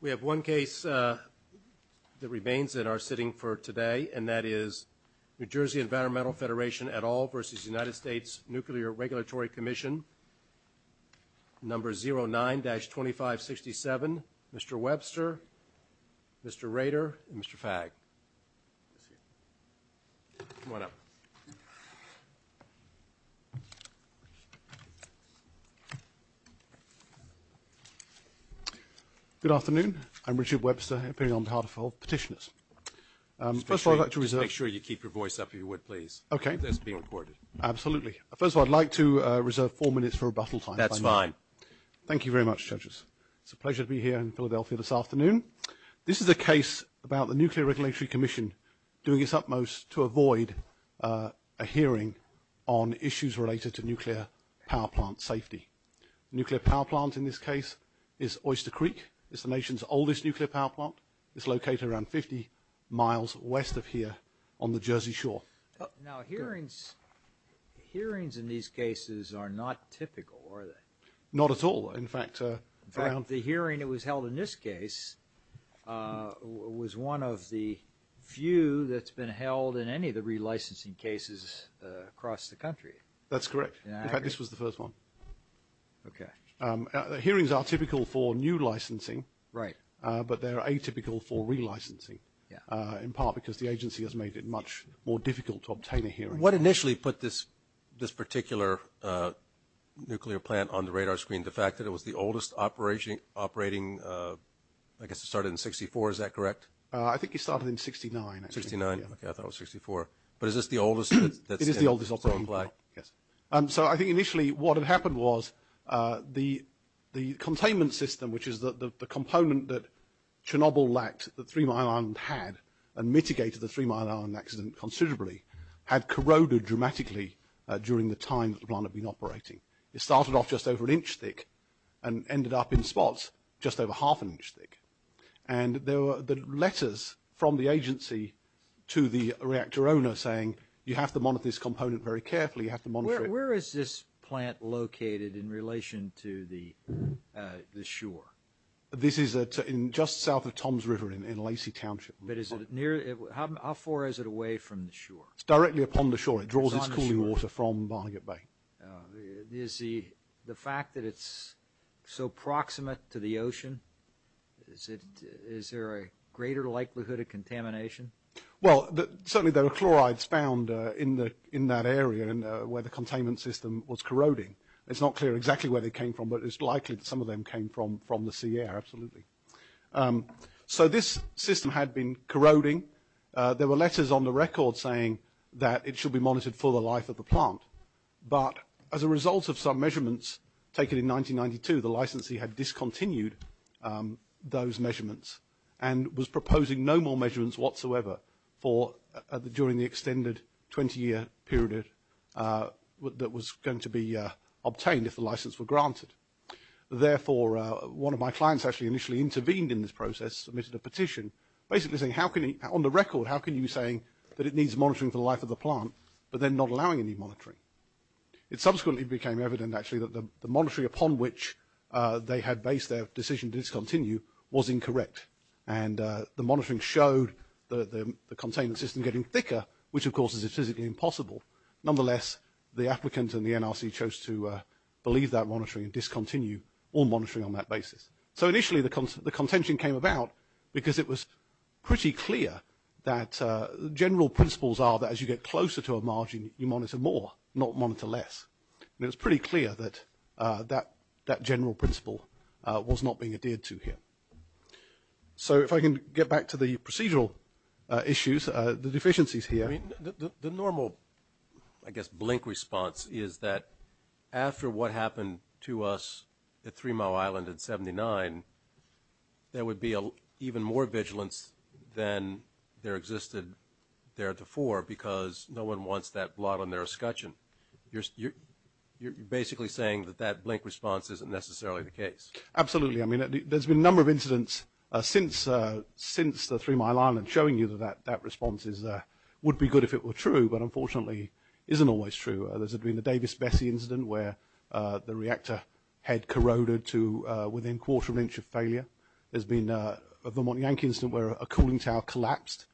We have one case that remains that are sitting for today, and that is NJEnvironmental Federation et al. v. United States Nuclear Regulatory Commission number 09-2567. Mr. Webster, Mr. Rader, and Mr. Fagg. Good afternoon. I'm Richard Webster, appearing on behalf of petitioners. Make sure you keep your voice up if you would, please. Okay. That's being recorded. Absolutely. First of all, I'd like to reserve four minutes for rebuttal time. That's fine. Thank you very much, judges. It's a pleasure to be here in Philadelphia this afternoon. This is a case about the Nuclear Regulatory Commission doing its utmost to avoid a hearing on issues related to nuclear power plant safety. Nuclear power plant in this case is Oyster Creek. It's the nation's oldest nuclear power plant. It's located around 50 miles west of here on the Jersey Shore. Now, hearings in these cases are not typical, are they? Not at all. In fact, the hearing that was held in this case was one of the few that's been held in any of the relicensing cases across the country. That's correct. In fact, this was the first one. Okay. Hearings are typical for new licensing. Right. But they're atypical for relicensing. In part because the agency has made it much more difficult to obtain a hearing. What initially put this particular nuclear plant on the radar screen? The fact that it was the oldest operating, I guess it started in 64. Is that correct? I think it started in 69. 69. Okay. I thought it was 64. But is this the oldest? It is the oldest operating plant. Yes. So I think initially what had happened was the containment system, which is the component that Chernobyl lacked that Three Mile Island had and mitigated the Three Mile Island accident considerably, had corroded dramatically during the time that the plant had been operating. It started off just over an inch thick and ended up in spots just over half an inch thick. And there were letters from the agency to the reactor owner saying, you have to monitor this component very carefully. You have to monitor it. Where is this plant located in relation to the shore? This is just south of Tom's River in Lacey Township. How far is it away from the shore? It's directly upon the shore. It draws its cooling water from Barnegat Bay. Is the fact that it's so proximate to the ocean, is there a greater likelihood of contamination? Well, certainly there were chlorides found in that area where the containment system was corroding. It's not clear exactly where they came from, but it's likely that some of them came from the sea air, absolutely. So this system had been corroding. There were letters on the record saying that it should be monitored for the life of the plant. But as a result of some measurements taken in 1992, the licensee had discontinued those measurements and was proposing no more measurements whatsoever during the extended 20-year period that was going to be obtained if the license were granted. Therefore, one of my clients actually initially intervened in this process, submitted a petition basically saying, on the record, how can you be saying that it needs monitoring for the life of the plant, but then not allowing any monitoring? It subsequently became evident, actually, that the monitoring upon which they had based their decision to discontinue was incorrect. And the monitoring showed the containment system getting thicker, which, of course, is physically impossible. Nonetheless, the applicant and the NRC chose to believe that monitoring and discontinue all monitoring on that basis. So initially the contention came about because it was pretty clear that general principles are that as you get closer to a margin, you monitor more, not monitor less. And it was pretty clear that that general principle was not being adhered to here. So if I can get back to the procedural issues, the deficiencies here. I mean, the normal, I guess, blink response is that after what happened to us at Three Mile Island in 79, there would be even more vigilance than there existed there before because no one wants that blot on their escutcheon. You're basically saying that that blink response isn't necessarily the case. Absolutely. I mean, there's been a number of incidents since the Three Mile Island showing you that that response would be good if it were true, but unfortunately isn't always true. There's been the Davis-Bessey incident where the reactor head corroded to within quarter of an inch of failure. There's been a Vermont Yankee incident where a cooling tower collapsed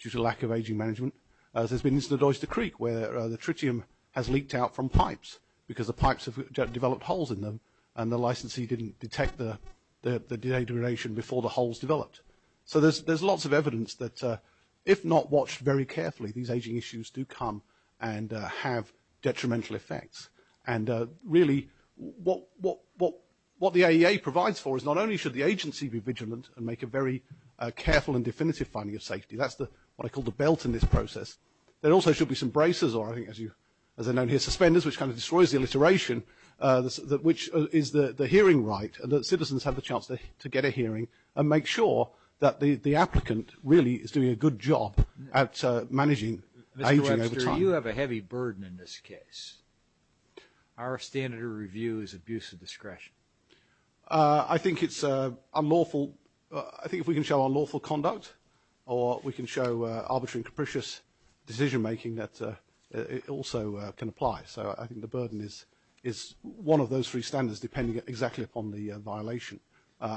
due to lack of aging management. There's been incident at Oyster Creek where the tritium has leaked out from pipes because the pipes have developed holes in them and the licensee didn't detect the degradation before the holes developed. So there's lots of evidence that if not watched very carefully, these aging issues do come and have detrimental effects. And really what the AEA provides for is not only should the agency be vigilant and make a very careful and definitive finding of safety. That's what I call the belt in this process. There also should be some braces or, as I know here, suspenders, which kind of destroys the alliteration, which is the hearing right that citizens have the chance to get a hearing and make sure that the applicant really is doing a good job at managing aging over time. Mr. Webster, you have a heavy burden in this case. Our standard of review is abuse of discretion. I think it's unlawful. I think if we can show unlawful conduct or we can show arbitrary and capricious decision-making, that also can apply. So I think the burden is one of those three standards, depending exactly upon the violation.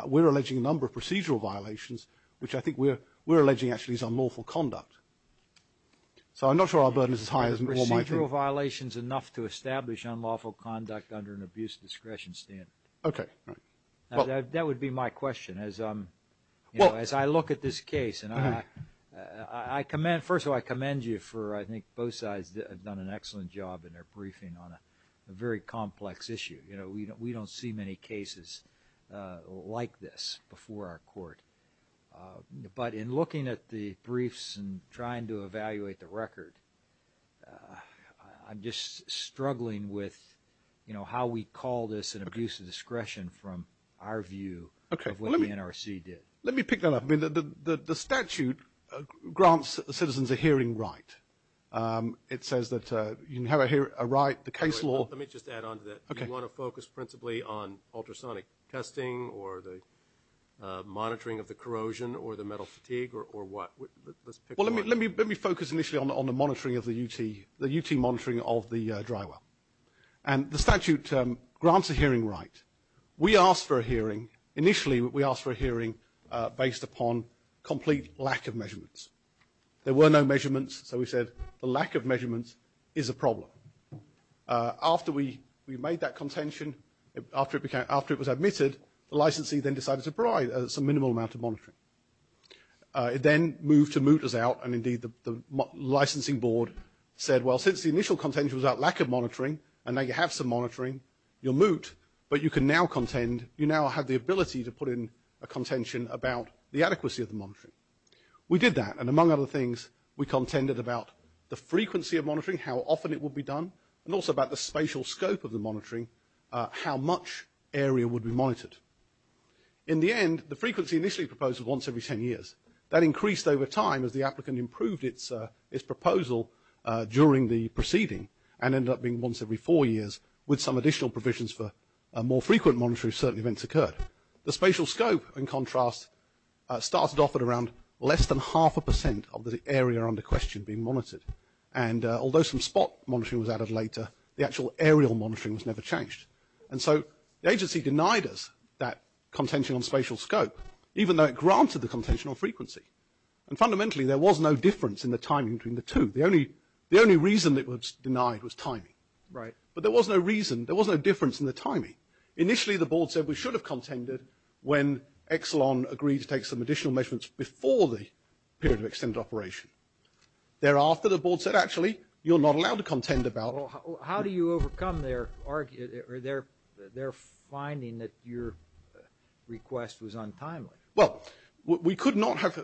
We're alleging a number of procedural violations, which I think we're alleging actually is unlawful conduct. So I'm not sure our burden is as high as it might be. Procedural violations enough to establish unlawful conduct under an abuse of discretion standard. Okay. That would be my question as I look at this case. First of all, I commend you for I think both sides have done an excellent job in their briefing on a very complex issue. We don't see many cases like this before our court. But in looking at the briefs and trying to evaluate the record, I'm just struggling with how we call this an abuse of discretion from our view of what the NRC did. Let me pick that up. I mean, the statute grants citizens a hearing right. It says that you inherit a right, the case law. Let me just add on to that. Okay. You want to focus principally on ultrasonic testing or the monitoring of the corrosion or the metal fatigue or what? Let's pick one. Well, let me focus initially on the monitoring of the UT, the UT monitoring of the dry well. And the statute grants a hearing right. We asked for a hearing. Initially, we asked for a hearing based upon complete lack of measurements. There were no measurements, so we said the lack of measurements is a problem. After we made that contention, after it was admitted, the licensee then decided to provide some minimal amount of monitoring. It then moved to moot us out, and, indeed, the licensing board said, well, since the initial contention was about lack of monitoring, and now you have some monitoring, you're moot, but you can now contend, you now have the ability to put in a contention about the adequacy of the monitoring. We did that, and among other things, we contended about the frequency of monitoring, how often it would be done, and also about the spatial scope of the monitoring, how much area would be monitored. In the end, the frequency initially proposed was once every 10 years. That increased over time as the applicant improved its proposal during the proceeding and ended up being once every four years with some additional provisions for more frequent monitoring if certain events occurred. The spatial scope, in contrast, started off at around less than half a percent of the area under question being monitored. And although some spot monitoring was added later, the actual aerial monitoring was never changed. And so the agency denied us that contention on spatial scope, even though it granted the contention on frequency. And fundamentally, there was no difference in the timing between the two. The only reason it was denied was timing. But there was no reason, there was no difference in the timing. Initially, the board said we should have contended when Exelon agreed to take some additional measurements before the period of extended operation. Thereafter, the board said, actually, you're not allowed to contend about. Well, how do you overcome their finding that your request was untimely? Well, we could not have.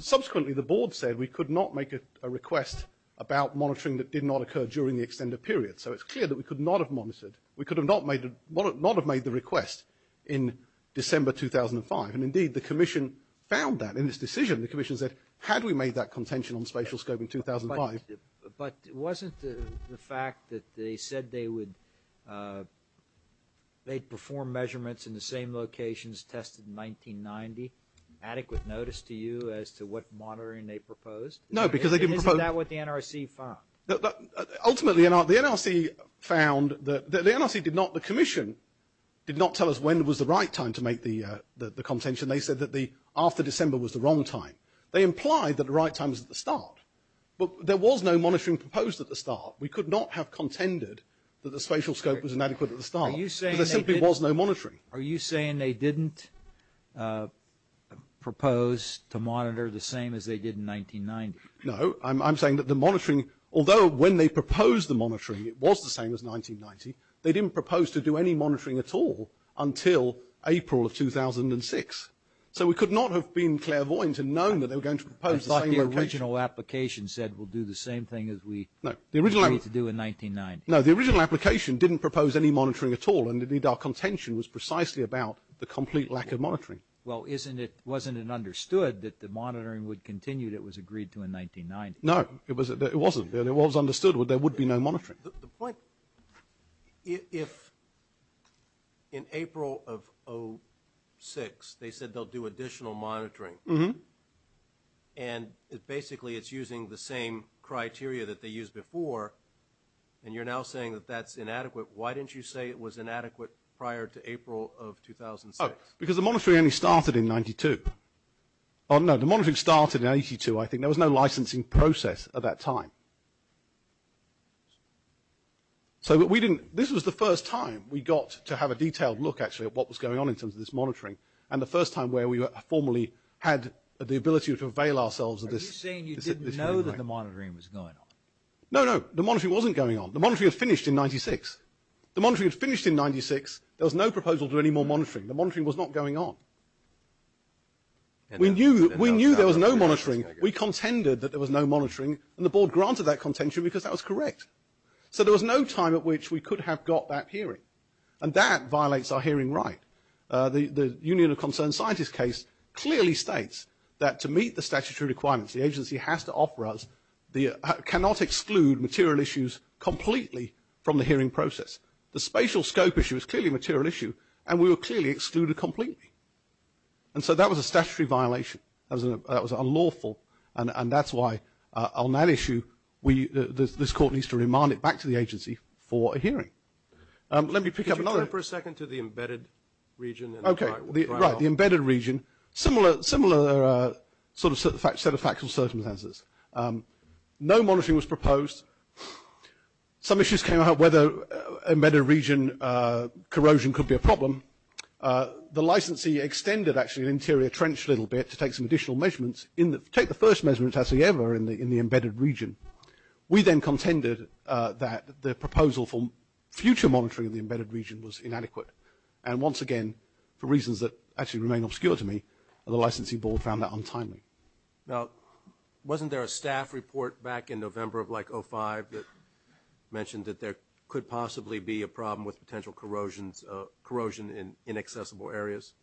Subsequently, the board said we could not make a request about monitoring that did not occur during the extended period. So it's clear that we could not have monitored. We could not have made the request in December 2005. And indeed, the commission found that in its decision. The commission said, had we made that contention on spatial scope in 2005. But wasn't the fact that they said they would perform measurements in the same locations tested in 1990 adequate notice to you as to what monitoring they proposed? No, because they didn't propose. Isn't that what the NRC found? Ultimately, the NRC found that the NRC did not, the commission did not tell us when was the right time to make the contention. They said that after December was the wrong time. They implied that the right time was at the start. But there was no monitoring proposed at the start. We could not have contended that the spatial scope was inadequate at the start. There simply was no monitoring. Are you saying they didn't propose to monitor the same as they did in 1990? No. I'm saying that the monitoring, although when they proposed the monitoring, it was the same as 1990, they didn't propose to do any monitoring at all until April of 2006. So we could not have been clairvoyant and known that they were going to propose the same location. The original application said we'll do the same thing as we agreed to do in 1990. No, the original application didn't propose any monitoring at all, and indeed our contention was precisely about the complete lack of monitoring. Well, wasn't it understood that the monitoring would continue that was agreed to in 1990? No, it wasn't. It was understood that there would be no monitoring. The point, if in April of 2006 they said they'll do additional monitoring, and basically it's using the same criteria that they used before, and you're now saying that that's inadequate, why didn't you say it was inadequate prior to April of 2006? Because the monitoring only started in 92. Oh, no, the monitoring started in 82, I think. There was no licensing process at that time. So this was the first time we got to have a detailed look, actually, at what was going on in terms of this monitoring, and the first time where we formally had the ability to avail ourselves of this. Are you saying you didn't know that the monitoring was going on? No, no, the monitoring wasn't going on. The monitoring was finished in 96. The monitoring was finished in 96. There was no proposal to do any more monitoring. The monitoring was not going on. We knew there was no monitoring. We contended that there was no monitoring, and the board granted that contention because that was correct. So there was no time at which we could have got that hearing, and that violates our hearing right. The Union of Concerned Scientists case clearly states that to meet the statutory requirements, the agency has to offer us, cannot exclude material issues completely from the hearing process. The spatial scope issue is clearly a material issue, and we were clearly excluded completely. And so that was a statutory violation. That was unlawful, and that's why on that issue, this court needs to remind it back to the agency for a hearing. Let me pick up another. Could you turn for a second to the embedded region? Okay, right, the embedded region. Similar sort of set of factual circumstances. No monitoring was proposed. Some issues came out whether embedded region corrosion could be a problem. The licensee extended, actually, an interior trench a little bit to take some additional measurements, take the first measurements ever in the embedded region. We then contended that the proposal for future monitoring of the embedded region was inadequate, and once again, for reasons that actually remain obscure to me, the licensee board found that untimely. Now, wasn't there a staff report back in November of, like, 2005 that mentioned that there could possibly be a problem with potential corrosion in inaccessible areas?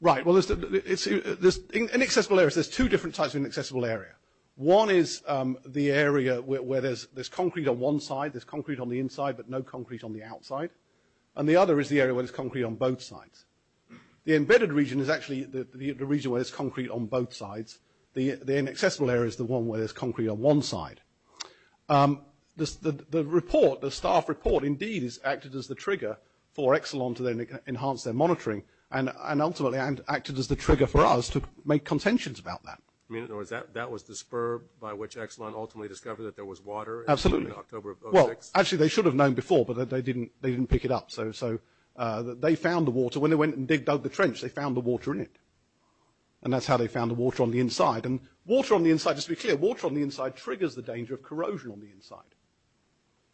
Right, well, inaccessible areas, there's two different types of inaccessible area. One is the area where there's concrete on one side, there's concrete on the inside, but no concrete on the outside. And the other is the area where there's concrete on both sides. The embedded region is actually the region where there's concrete on both sides. The inaccessible area is the one where there's concrete on one side. The report, the staff report, indeed, is acted as the trigger for Exelon to then enhance their monitoring, and ultimately acted as the trigger for us to make contentions about that. I mean, in other words, that was the spur by which Exelon ultimately discovered that there was water in October of 2006? Absolutely. Well, actually, they should have known before, but they didn't pick it up. So they found the water. When they went and dug the trench, they found the water in it. And that's how they found the water on the inside. And water on the inside, just to be clear, water on the inside triggers the danger of corrosion on the inside.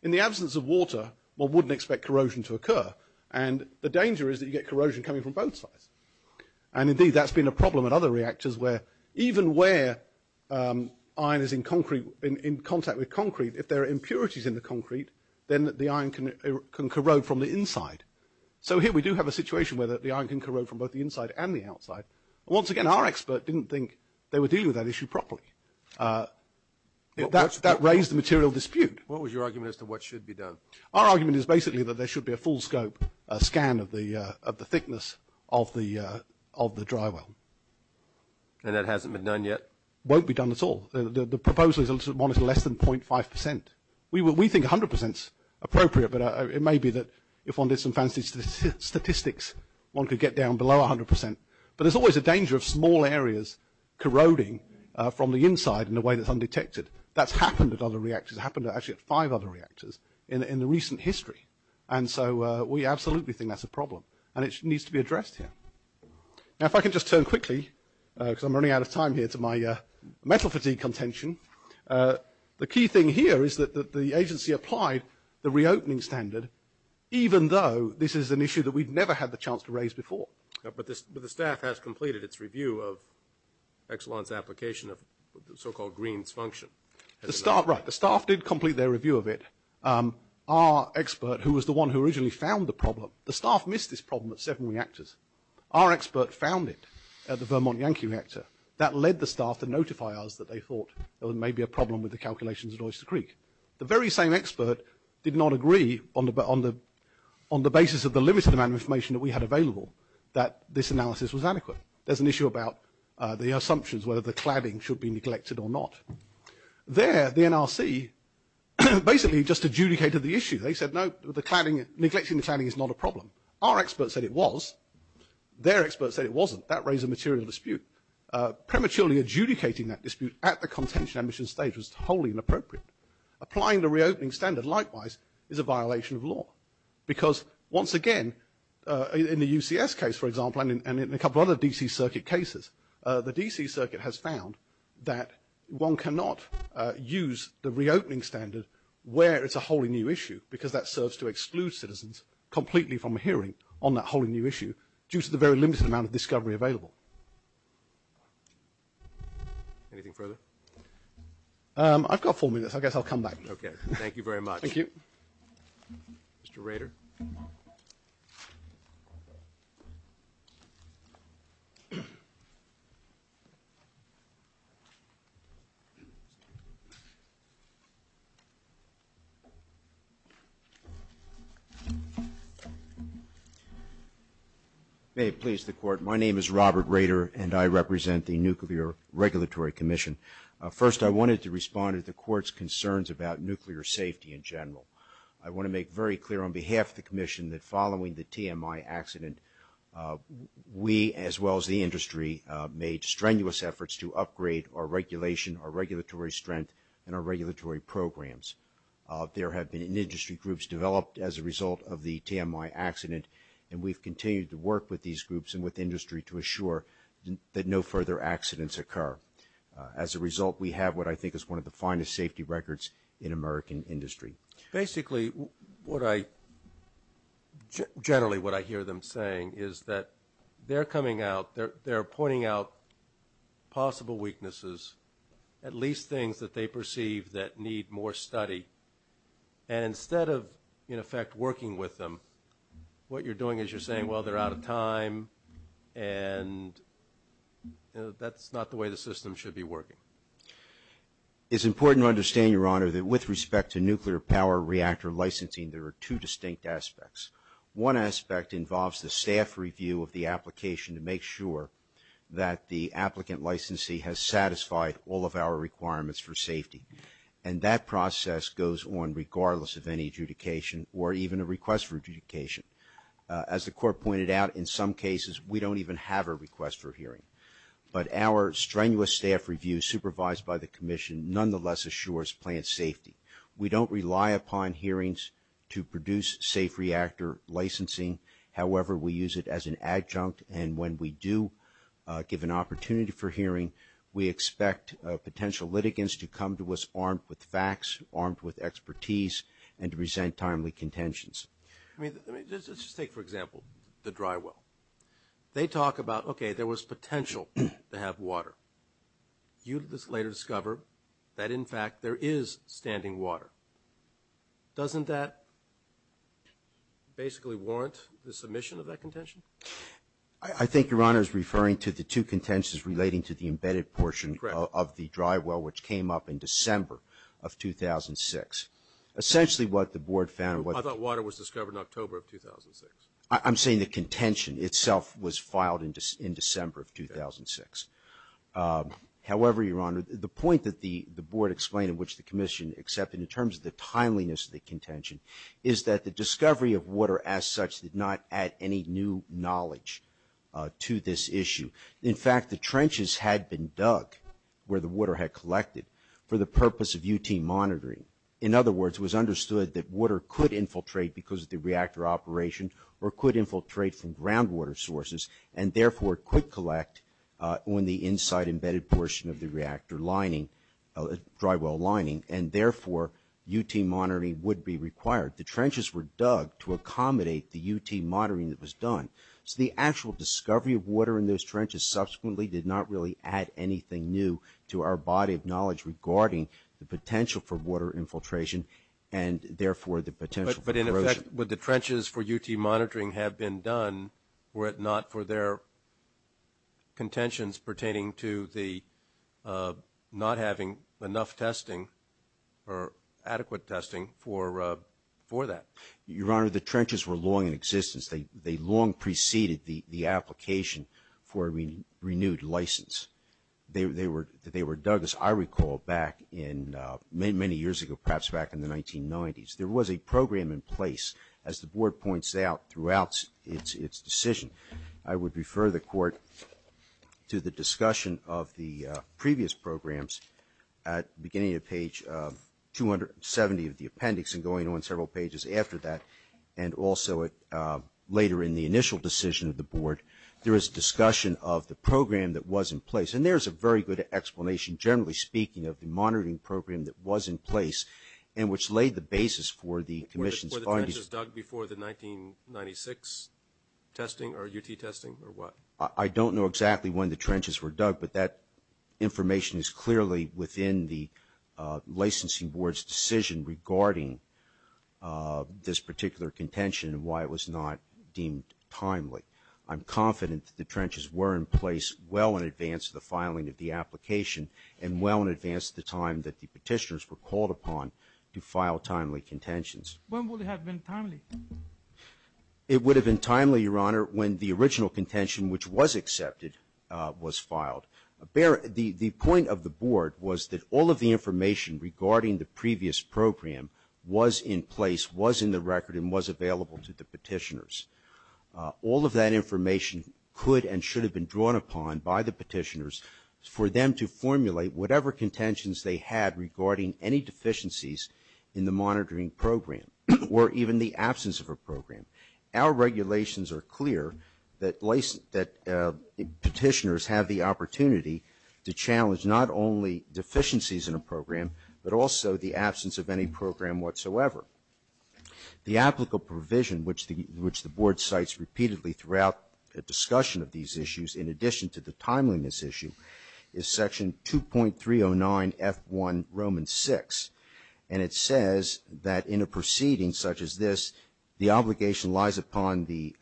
In the absence of water, one wouldn't expect corrosion to occur. And the danger is that you get corrosion coming from both sides. And, indeed, that's been a problem in other reactors where even where iron is in concrete, in contact with concrete, if there are impurities in the concrete, then the iron can corrode from the inside. So here we do have a situation where the iron can corrode from both the inside and the outside. Once again, our expert didn't think they were dealing with that issue properly. That raised the material dispute. What was your argument as to what should be done? Our argument is basically that there should be a full scope scan of the thickness of the dry well. And that hasn't been done yet? Won't be done at all. The proposal is one that's less than .5 percent. We think 100 percent is appropriate, but it may be that if one did some fancy statistics, one could get down below 100 percent. But there's always a danger of small areas corroding from the inside in a way that's undetected. That's happened at other reactors. It happened, actually, at five other reactors in the recent history. And so we absolutely think that's a problem. And it needs to be addressed here. Now, if I can just turn quickly, because I'm running out of time here, to my mental fatigue contention. The key thing here is that the agency applied the reopening standard, even though this is an issue that we've never had the chance to raise before. But the staff has completed its review of Exelon's application of the so-called Green's function. Right. The staff did complete their review of it. Our expert, who was the one who originally found the problem, the staff missed this problem at seven reactors. Our expert found it at the Vermont Yankee reactor. That led the staff to notify us that they thought there may be a problem with the calculations at Oyster Creek. The very same expert did not agree on the basis of the limited amount of information that we had available that this analysis was adequate. There's an issue about the assumptions, whether the cladding should be neglected or not. There, the NRC basically just adjudicated the issue. They said, no, neglecting the cladding is not a problem. Our experts said it was. Their experts said it wasn't. That raised a material dispute. Prematurely adjudicating that dispute at the contention and mission stage was wholly inappropriate. Applying the reopening standard, likewise, is a violation of law. Because, once again, in the UCS case, for example, and in a couple of other DC circuit cases, the DC circuit has found that one cannot use the reopening standard where it's a wholly new issue because that serves to exclude citizens completely from hearing on that wholly new issue due to the very limited amount of discovery available. Anything further? I've got four minutes. I guess I'll come back. Okay. Thank you very much. Thank you. Mr. Rader. May it please the Court, my name is Robert Rader, and I represent the Nuclear Regulatory Commission. First, I wanted to respond to the Court's concerns about nuclear safety in general. I want to make very clear on behalf of the Commission that following the TMI accident, we, as well as the industry, made strenuous efforts to upgrade our regulation, our regulatory strength, and our regulatory programs. There have been industry groups developed as a result of the TMI accident, and we've continued to work with these groups and with industry to assure that no further accidents occur. As a result, we have what I think is one of the finest safety records in American industry. Basically, generally what I hear them saying is that they're coming out, they're pointing out possible weaknesses, at least things that they perceive that need more study. And instead of, in effect, working with them, what you're doing is you're saying, well, they're out of time, and that's not the way the system should be working. It's important to understand, Your Honor, that with respect to nuclear power reactor licensing, there are two distinct aspects. One aspect involves the staff review of the application to make sure that the applicant licensee has satisfied all of our requirements for safety. And that process goes on regardless of any adjudication or even a request for adjudication. As the Court pointed out, in some cases we don't even have a request for hearing. But our strenuous staff review, supervised by the Commission, nonetheless assures plant safety. We don't rely upon hearings to produce safe reactor licensing. However, we use it as an adjunct, and when we do give an opportunity for hearing, we expect potential litigants to come to us armed with facts, armed with expertise, and to present timely contentions. Let's just take, for example, the dry well. They talk about, okay, there was potential to have water. You later discover that, in fact, there is standing water. Doesn't that basically warrant the submission of that contention? I think Your Honor is referring to the two contentions relating to the embedded portion of the dry well, which came up in December of 2006. Essentially what the Board found was that water was discovered in October of 2006. I'm saying the contention itself was filed in December of 2006. However, Your Honor, the point that the Board explained, which the Commission accepted in terms of the timeliness of the contention, is that the discovery of water as such did not add any new knowledge to this issue. In fact, the trenches had been dug where the water had collected for the purpose of UT monitoring. In other words, it was understood that water could infiltrate because of the reactor operation or could infiltrate from groundwater sources, and therefore could collect on the inside embedded portion of the reactor lining, dry well lining, and therefore UT monitoring would be required. The trenches were dug to accommodate the UT monitoring that was done. So the actual discovery of water in those trenches subsequently did not really add anything new to our body of knowledge regarding the potential for water infiltration and therefore the potential for corrosion. But in effect, would the trenches for UT monitoring have been done were it not for their contentions pertaining to the not having enough testing or adequate testing for that? Your Honor, the trenches were long in existence. They long preceded the application for a renewed license. They were dug, as I recall, many years ago, perhaps back in the 1990s. There was a program in place, as the Board points out, throughout its decision. I would refer the Court to the discussion of the previous programs at the beginning of page 270 of the appendix and going on several pages after that and also later in the initial decision of the Board. There is discussion of the program that was in place, and there is a very good explanation generally speaking of the monitoring program that was in place and which laid the basis for the Commission's findings. Were the trenches dug before the 1996 testing or UT testing or what? I don't know exactly when the trenches were dug, but that information is clearly within the licensing board's decision regarding this particular contention and why it was not deemed timely. I'm confident that the trenches were in place well in advance of the filing of the application and well in advance of the time that the petitioners were called upon to file timely contentions. When would it have been timely? It would have been timely, Your Honor, when the original contention, which was accepted, was filed. The point of the Board was that all of the information regarding the previous program was in place, was in the record, and was available to the petitioners. All of that information could and should have been drawn upon by the petitioners for them to formulate whatever contentions they had regarding any deficiencies in the monitoring program or even the absence of a program. Our regulations are clear that petitioners have the opportunity to challenge not only deficiencies in a program, but also the absence of any program whatsoever. The applicable provision, which the Board cites repeatedly throughout the discussion of these issues, in addition to the timeliness issue, is Section 2.309F1, Romans 6, and it says that in a proceeding such as this, the obligation lies upon the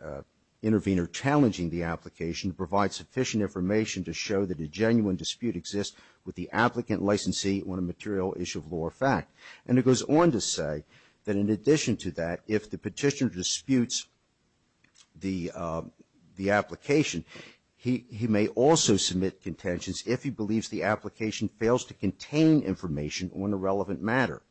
intervener challenging the application to provide sufficient information to show that a genuine dispute exists with the applicant licensee on a material issue of law or fact. And it goes on to say that in addition to that, if the petitioner disputes the application, he may also submit contentions if he believes the application fails to contain information on a relevant matter.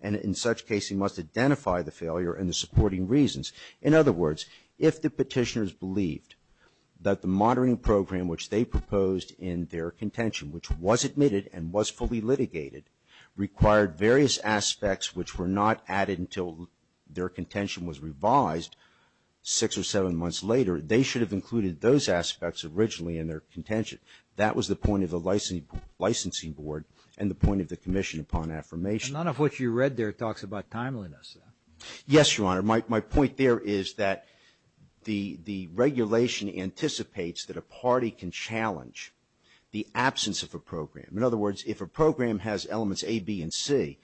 And in such case, he must identify the failure and the supporting reasons. In other words, if the petitioners believed that the monitoring program which they proposed in their contention, which was admitted and was fully litigated, required various aspects which were not added until their contention was revised six or seven months later, they should have included those aspects originally in their contention. That was the point of the licensing board and the point of the commission upon affirmation. And none of what you read there talks about timeliness. Yes, Your Honor. My point there is that the regulation anticipates that a party can challenge the absence of a program. In other words, if a program has elements A, B, and C,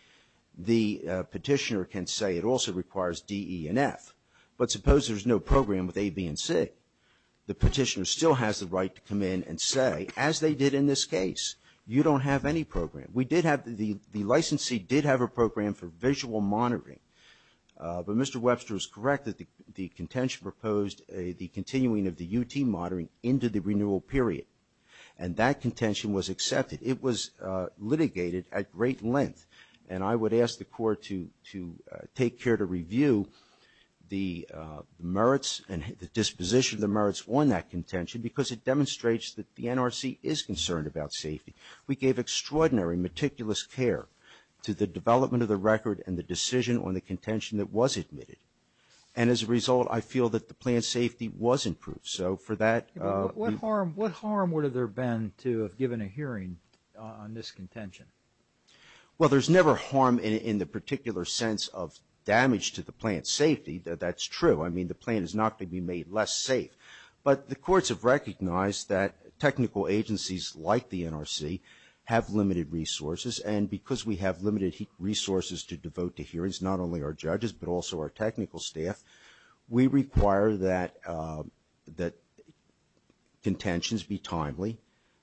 the petitioner can say it also requires D, E, and F. But suppose there's no program with A, B, and C. The petitioner still has the right to come in and say, as they did in this case, you don't have any program. We did have the licensee did have a program for visual monitoring. But Mr. Webster is correct that the contention proposed the continuing of the UT monitoring into the renewal period. And that contention was accepted. It was litigated at great length. And I would ask the court to take care to review the merits and the disposition of the merits on that contention because it demonstrates that the NRC is concerned about safety. We gave extraordinary, meticulous care to the development of the record and the decision on the contention that was admitted. And as a result, I feel that the plan's safety was improved. So for that ‑‑ What harm would there have been to have given a hearing on this contention? Well, there's never harm in the particular sense of damage to the plan's safety. That's true. I mean, the plan is not going to be made less safe. But the courts have recognized that technical agencies like the NRC have limited resources. And because we have limited resources to devote to hearings, not only our judges but also our technical staff, we require that contentions be timely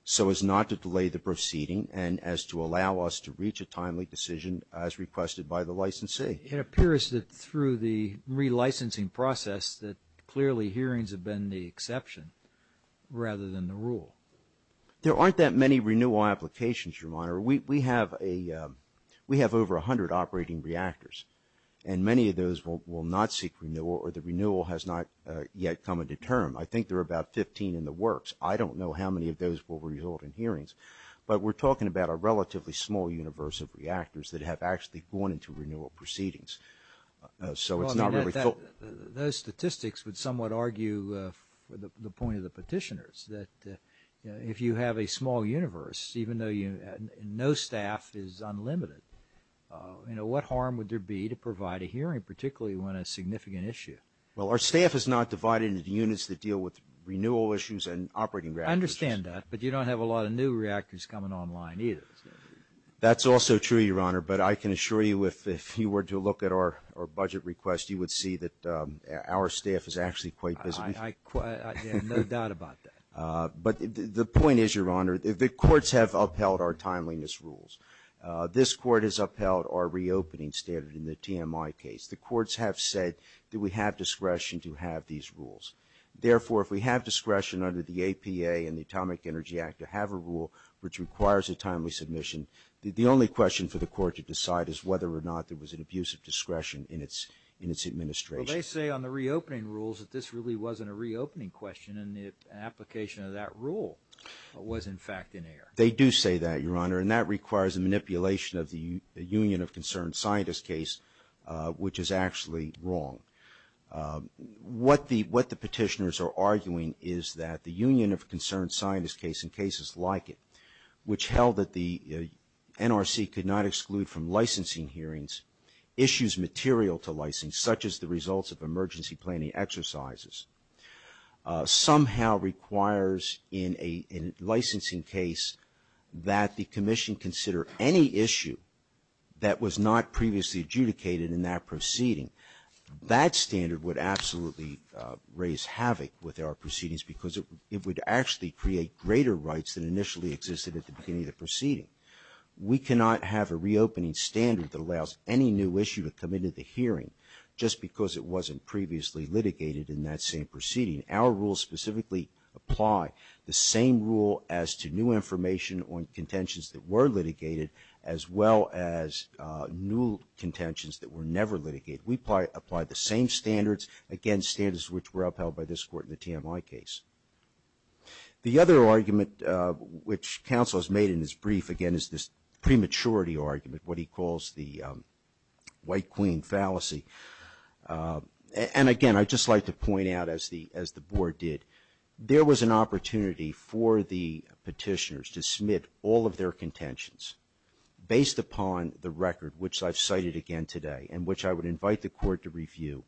so as not to delay the proceeding and as to allow us to reach a timely decision as requested by the licensee. It appears that through the relicensing process that clearly hearings have been the exception rather than the rule. There aren't that many renewal applications, Your Honor. We have over 100 operating reactors. And many of those will not seek renewal or the renewal has not yet come into term. I think there are about 15 in the works. I don't know how many of those will result in hearings. But we're talking about a relatively small universe of reactors that have actually gone into renewal proceedings. So it's not really filled. Those statistics would somewhat argue the point of the petitioners that if you have a small universe, even though no staff is unlimited, what harm would there be to provide a hearing, particularly when a significant issue? Well, our staff is not divided into the units that deal with renewal issues and operating reactors. I understand that. But you don't have a lot of new reactors coming online either. That's also true, Your Honor. But I can assure you if you were to look at our budget request, you would see that our staff is actually quite busy. I have no doubt about that. But the point is, Your Honor, the courts have upheld our timeliness rules. This court has upheld our reopening standard in the TMI case. The courts have said that we have discretion to have these rules. Therefore, if we have discretion under the APA and the Atomic Energy Act to have a rule which requires a timely submission, the only question for the court to decide is whether or not there was an abuse of discretion in its administration. Well, they say on the reopening rules that this really wasn't a reopening question and the application of that rule was, in fact, in error. They do say that, Your Honor, and that requires a manipulation of the Union of Concerned Scientists case, which is actually wrong. What the petitioners are arguing is that the Union of Concerned Scientists case, and cases like it, which held that the NRC could not exclude from licensing hearings issues material to license, such as the results of emergency planning exercises, somehow requires in a licensing case that the commission consider any issue that was not previously adjudicated in that proceeding. That standard would absolutely raise havoc with our proceedings because it would actually create greater rights than initially existed at the beginning of the proceeding. We cannot have a reopening standard that allows any new issue to come into the hearing just because it wasn't previously litigated in that same proceeding. Our rules specifically apply the same rule as to new information on contentions that were litigated as well as new contentions that were never litigated. We apply the same standards, again, standards which were upheld by this Court in the TMI case. The other argument which counsel has made in his brief, again, is this prematurity argument, what he calls the white queen fallacy. And, again, I'd just like to point out, as the Board did, there was an opportunity for the petitioners to submit all of their contentions based upon the record, which I've cited again today and which I would invite the Court to review,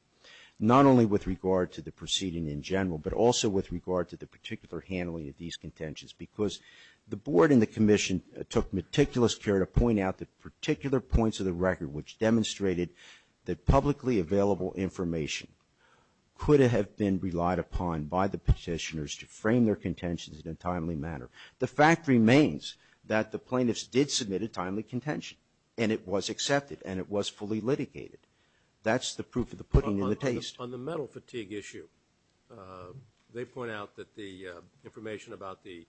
not only with regard to the proceeding in general but also with regard to the particular handling of these contentions because the Board and the Commission took meticulous care to point out the particular points of the record which demonstrated that publicly available information could have been relied upon by the petitioners to frame their contentions in a timely manner. The fact remains that the plaintiffs did submit a timely contention, and it was accepted, and it was fully litigated. That's the proof of the pudding in the taste. On the mental fatigue issue, they point out that the information about the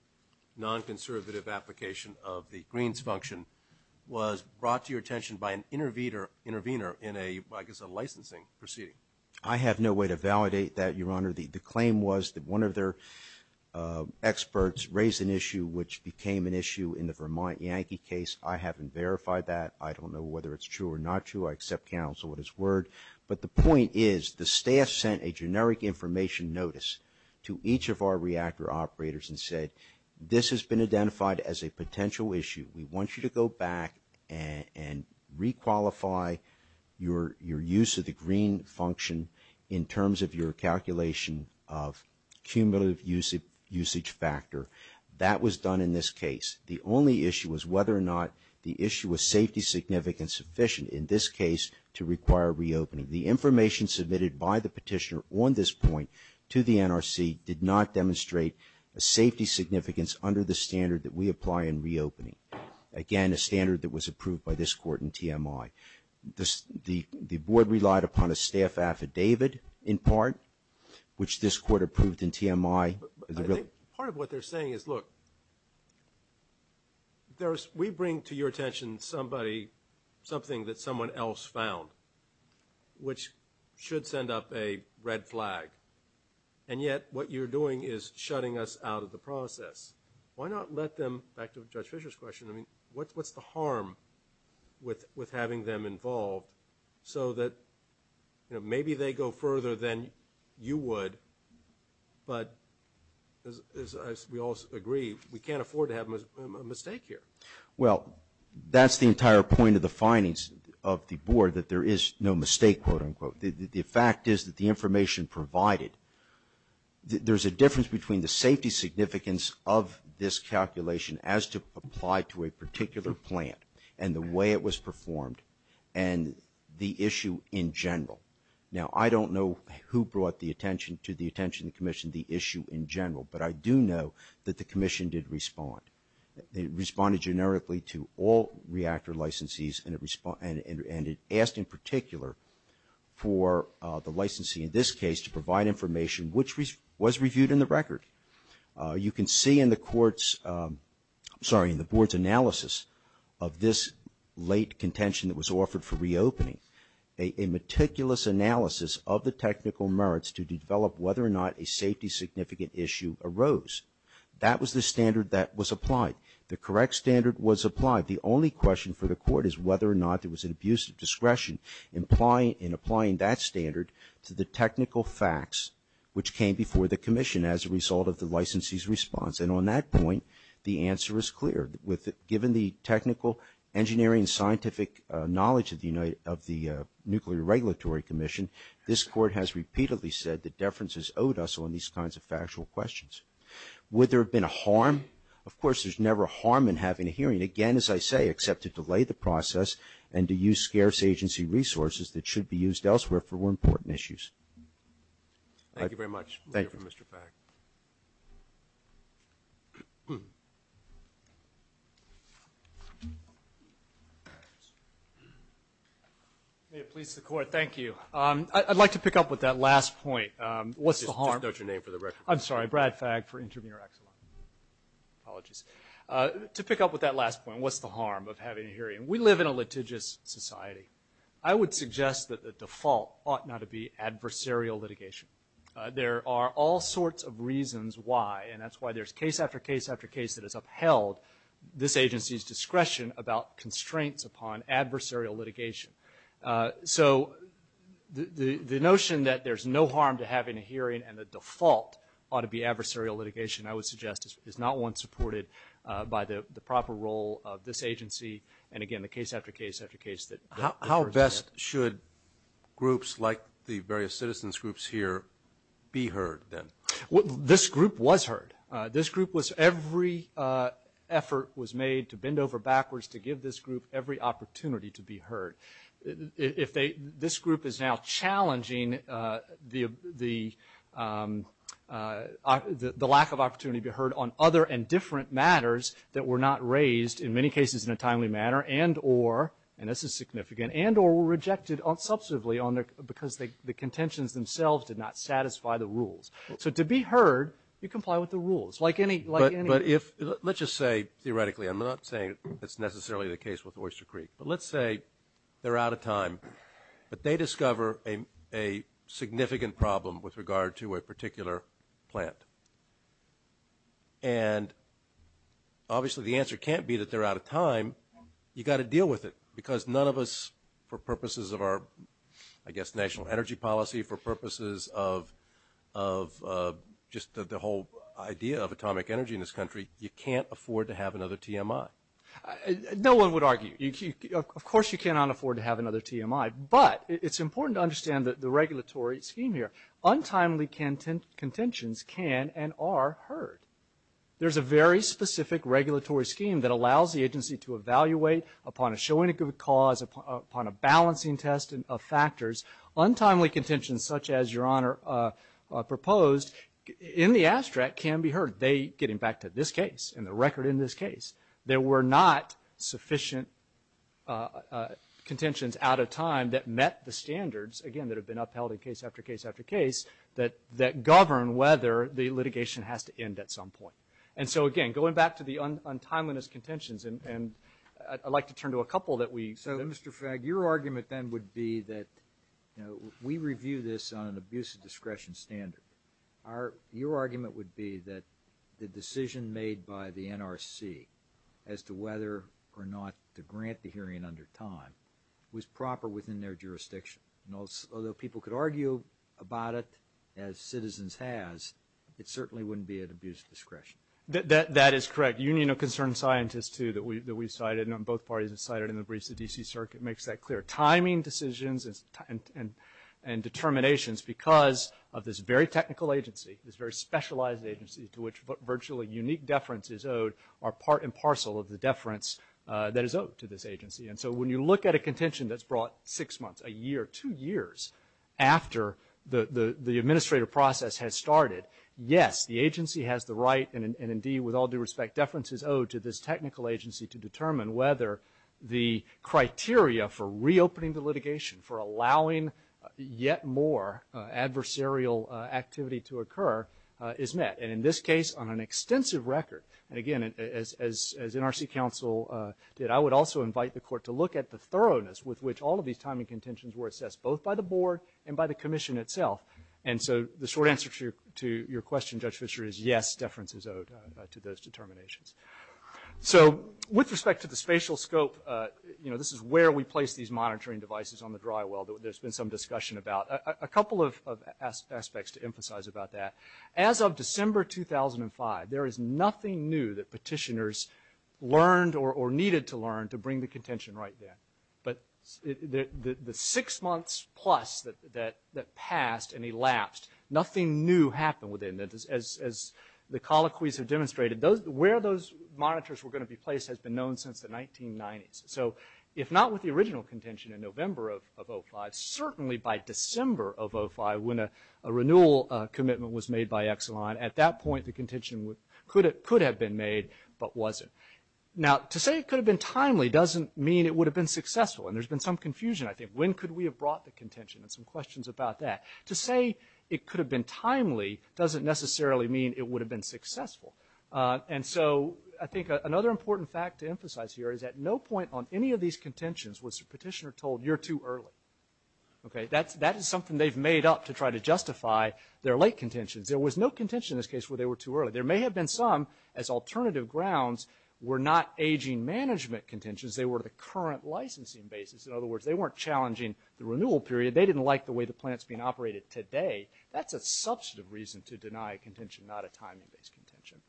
non-conservative application of the Greens function was brought to your attention by an intervener in a licensing proceeding. I have no way to validate that, Your Honor. The claim was that one of their experts raised an issue which became an issue in the Vermont Yankee case. I haven't verified that. I don't know whether it's true or not true. I accept counsel at his word. But the point is the staff sent a generic information notice to each of our reactor operators and said, this has been identified as a potential issue. We want you to go back and requalify your use of the Green function in terms of your calculation of cumulative usage factor. That was done in this case. The only issue was whether or not the issue was safety significant sufficient, in this case, to require reopening. The information submitted by the petitioner on this point to the NRC did not demonstrate a safety significance under the standard that we apply in reopening. Again, a standard that was approved by this Court in TMI. The Board relied upon a staff affidavit, in part, which this Court approved in TMI. Part of what they're saying is, look, we bring to your attention somebody, something that someone else found, which should send up a red flag, and yet what you're doing is shutting us out of the process. Why not let them, back to Judge Fischer's question, what's the harm with having them involved so that maybe they go further than you would, but as we all agree, we can't afford to have a mistake here. Well, that's the entire point of the findings of the Board, that there is no mistake, quote-unquote. The fact is that the information provided, there's a difference between the safety significance of this calculation as to apply to a particular plant and the way it was performed and the issue in general. Now, I don't know who brought the attention to the attention of the Commission, the issue in general, but I do know that the Commission did respond. It responded generically to all reactor licensees and it asked in particular for the licensee, in this case, to provide information which was reviewed in the record. You can see in the Court's, I'm sorry, in the Board's analysis of this late contention that was offered for reopening, a meticulous analysis of the technical merits to develop whether or not a safety significant issue arose. That was the standard that was applied. The correct standard was applied. The only question for the Court is whether or not there was an abuse of discretion in applying that standard to the technical facts which came before the Commission as a result of the licensee's response. And on that point, the answer is clear. Given the technical, engineering, and scientific knowledge of the Nuclear Regulatory Commission, this Court has repeatedly said that deferences owed us on these kinds of factual questions. Would there have been a harm? Of course, there's never a harm in having a hearing, again, as I say, except to delay the process and to use scarce agency resources that should be used elsewhere for more important issues. Thank you very much. Thank you, Mr. Fagg. May it please the Court, thank you. I'd like to pick up with that last point. What's the harm? Just note your name for the record. I'm sorry, Brad Fagg for Intervenor Exelon. Apologies. To pick up with that last point, what's the harm of having a hearing? We live in a litigious society. I would suggest that the default ought not to be adversarial litigation. There are all sorts of reasons why, and that's why there's case after case after case that has upheld this agency's discretion about constraints upon adversarial litigation. So the notion that there's no harm to having a hearing and the default ought to be adversarial litigation, I would suggest, is not one supported by the proper role of this agency and, again, the case after case after case that occurs in it. How best should groups like the various citizens groups here be heard, then? This group was heard. This group was every effort was made to bend over backwards to give this group every opportunity to be heard. This group is now challenging the lack of opportunity to be heard on other and different matters that were not raised, in many cases, in a timely manner and or, and this is significant, and or were rejected substantively because the contentions themselves did not satisfy the rules. So to be heard, you comply with the rules, like any... But if, let's just say theoretically, I'm not saying that's necessarily the case with Oyster Creek, but let's say they're out of time, but they discover a significant problem with regard to a particular plant. And obviously the answer can't be that they're out of time. You've got to deal with it because none of us, for purposes of our, I guess, national energy policy, for purposes of just the whole idea of atomic energy in this country, you can't afford to have another TMI. No one would argue. Of course you cannot afford to have another TMI, but it's important to understand the regulatory scheme here. Untimely contentions can and are heard. There's a very specific regulatory scheme that allows the agency to evaluate upon a showing of good cause, upon a balancing test of factors. Untimely contentions, such as Your Honor proposed, in the abstract can be heard. They, getting back to this case and the record in this case, there were not sufficient contentions out of time that met the standards, again, that have been upheld in case after case after case that govern whether the litigation has to end at some point. And so, again, going back to the untimeliness contentions, and I'd like to turn to a couple that we... So, Mr. Fagg, your argument then would be that, you know, we review this on an abuse of discretion standard. Your argument would be that the decision made by the NRC as to whether or not to grant the hearing under time was proper within their jurisdiction. Although people could argue about it as citizens has, it certainly wouldn't be at abuse of discretion. That is correct. Union of Concerned Scientists, too, that we've cited, and both parties have cited in the briefs of the D.C. Circuit, makes that clear. Timing decisions and determinations because of this very technical agency, this very specialized agency to which virtually unique deference is owed are part and parcel of the deference that is owed to this agency. And so when you look at a contention that's brought six months, a year, two years after the administrative process has started, yes, the agency has the right and, indeed, with all due respect, deference is owed to this technical agency to determine whether the criteria for reopening the litigation, for allowing yet more adversarial activity to occur, is met. And in this case, on an extensive record, and, again, as NRC counsel did, I would also invite the Court to look at the thoroughness with which all of these timing contentions were assessed, both by the Board and by the Commission itself. And so the short answer to your question, Judge Fischer, is yes, deference is owed to those determinations. So with respect to the spatial scope, you know, this is where we place these monitoring devices on the drywall that there's been some discussion about. A couple of aspects to emphasize about that. As of December 2005, there is nothing new that petitioners learned or needed to learn to bring the contention right then. But the six months plus that passed and elapsed, nothing new happened within that. As the colloquies have demonstrated, where those monitors were going to be placed has been known since the 1990s. So if not with the original contention in November of 2005, certainly by December of 2005, when a renewal commitment was made by Exelon, at that point the contention could have been made, but wasn't. Now, to say it could have been timely doesn't mean it would have been successful. And there's been some confusion, I think. When could we have brought the contention? And some questions about that. To say it could have been timely doesn't necessarily mean it would have been successful. And so I think another important fact to emphasize here is at no point on any of these contentions was the petitioner told, you're too early. OK, that is something they've made up to try to justify their late contentions. There was no contention in this case where they were too early. There may have been some, as alternative grounds, were not aging management contentions. They were the current licensing basis. In other words, they weren't challenging the renewal period. They didn't like the way the plant's being operated today. That's a substantive reason to deny a contention, not a timing-based contention.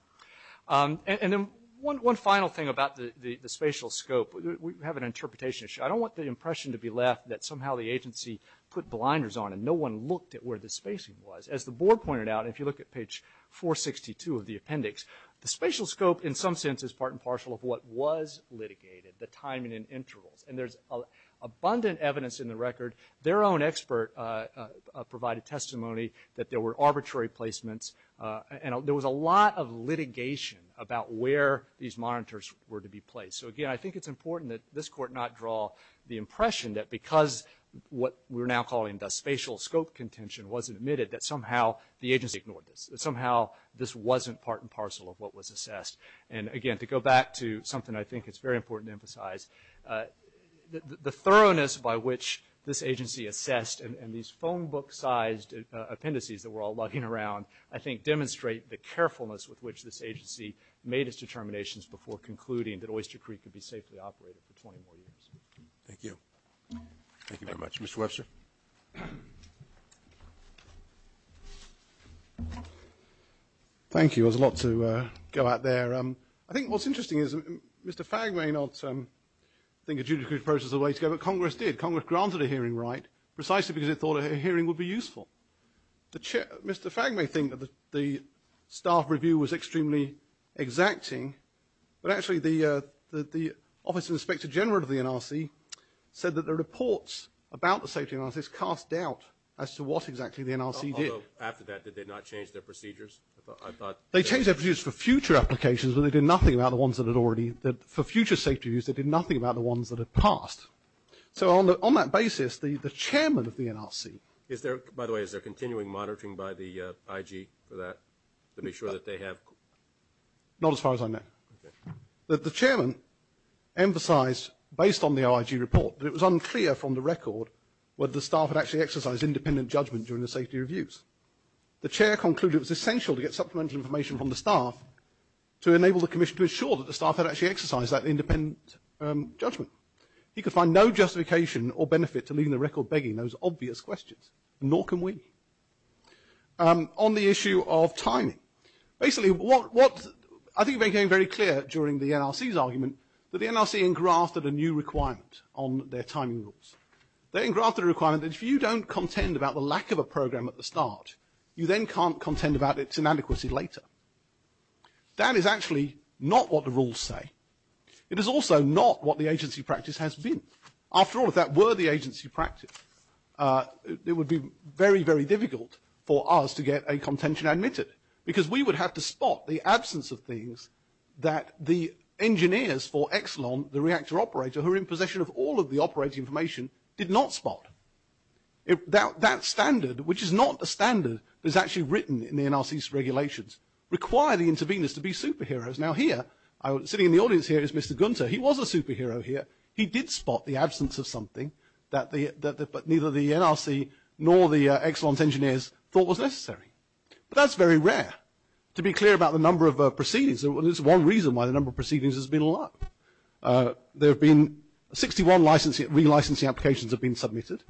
And then one final thing about the spatial scope. We have an interpretation issue. I don't want the impression to be left that somehow the agency put blinders on and no one looked at where the spacing was. As the board pointed out, if you look at page 462 of the appendix, the spatial scope, in some sense, is part and parcel of what was litigated, the timing and intervals. And there's abundant evidence in the record. Their own expert provided testimony that there were arbitrary placements, and there was a lot of litigation about where these monitors were to be placed. So, again, I think it's important that this Court not draw the impression that because what we're now calling the spatial scope contention wasn't admitted, that somehow the agency ignored this, that somehow this wasn't part and parcel of what was assessed. And, again, to go back to something I think it's very important to emphasize, the thoroughness by which this agency assessed and these phone book-sized appendices that we're all lugging around, I think demonstrate the carefulness with which this agency made its determinations before concluding that Oyster Creek could be safely operated for 20 more years. Thank you. Thank you very much. Mr. Webster? Thank you. There's a lot to go out there. I think what's interesting is Mr. Fagg may not think a judicial process is the way to go, but Congress did. Congress granted a hearing right precisely because it thought a hearing would be useful. Mr. Fagg may think that the staff review was extremely exacting, but actually the Office of the Inspector General of the NRC said that the reports about the safety analysis cast doubt as to what exactly the NRC did. Although, after that, did they not change their procedures? I thought... They changed their procedures for future applications, but they did nothing about the ones that had already... For future safety reviews, they did nothing about the ones that had passed. So on that basis, the chairman of the NRC... By the way, is there continuing monitoring by the IG for that to make sure that they have... Not as far as I know. Okay. The chairman emphasized, based on the IG report, that it was unclear from the record whether the staff had actually exercised independent judgment during the safety reviews. The chair concluded it was essential to get supplemental information from the staff to enable the commission to ensure that the staff had actually exercised that independent judgment. He could find no justification or benefit to leaving the record begging those obvious questions. Nor can we. On the issue of timing. Basically, what... I think it became very clear during the NRC's argument that the NRC engrafted a new requirement on their timing rules. They engrafted a requirement that if you don't contend about the lack of a program at the start, you then can't contend about its inadequacy later. That is actually not what the rules say. It is also not what the agency practice has been. After all, if that were the agency practice, it would be very, very difficult for us to get a contention admitted. Because we would have to spot the absence of things that the engineers for Exelon, the reactor operator, who are in possession of all of the operating information, did not spot. That standard, which is not a standard that is actually written in the NRC's regulations, required the interveners to be superheroes. Now here, sitting in the audience here is Mr. Gunter. He was a superhero here. He did spot the absence of something that neither the NRC nor the Exelon's engineers thought was necessary. But that's very rare. To be clear about the number of proceedings, there's one reason why the number of proceedings has been low. There have been 61 re-licensing applications have been submitted.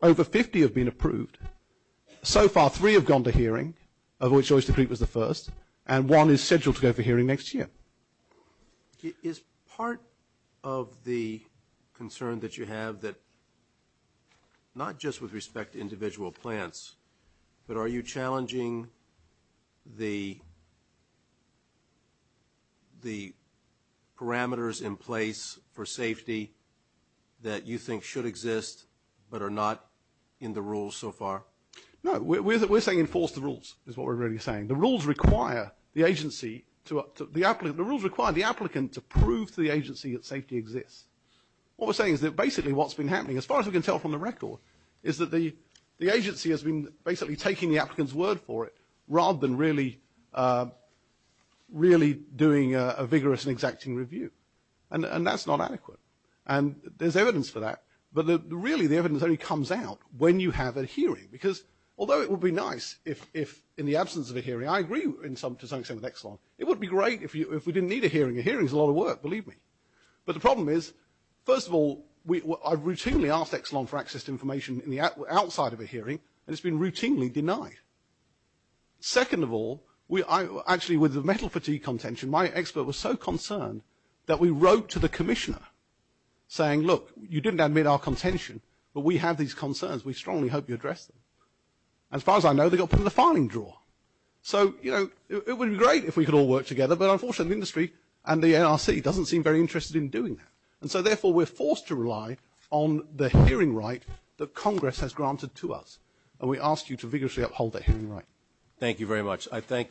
Over 50 have been approved. So far, three have gone to hearing, of which Oyster Creek was the first, and one is scheduled to go for hearing next year. Is part of the concern that you have that not just with respect to individual plants, but are you challenging the parameters in place for safety that you think should exist, but are not in the rules so far? No, we're saying enforce the rules, is what we're really saying. The rules require the agency, the rules require the applicant to prove to the agency that safety exists. What we're saying is that basically what's been happening, as far as we can tell from the record, is that the agency has been basically taking the applicant's word for it, rather than really doing a vigorous and exacting review. And that's not adequate. And there's evidence for that, but really the evidence only comes out when you have a hearing. Because although it would be nice if in the absence of a hearing, I agree to some extent with Exelon, it would be great if we didn't need a hearing. A hearing is a lot of work, believe me. I routinely ask Exelon for access to information outside of a hearing, and it's been routinely denied. Second of all, actually with the metal fatigue contention, my expert was so concerned that we wrote to the commissioner saying, look, you didn't admit our contention, but we have these concerns, we strongly hope you address them. As far as I know, they got put in the filing drawer. So, you know, it would be great if we could all work together, but unfortunately the industry and the NRC doesn't seem very interested in doing that. And so therefore we're forced to rely on the hearing right that Congress has granted to us, and we ask you to vigorously uphold that hearing right. Thank you very much. I thank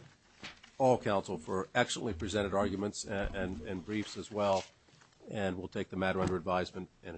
all counsel for excellently presented arguments and briefs as well, and we'll take the matter under advisement and adjourn.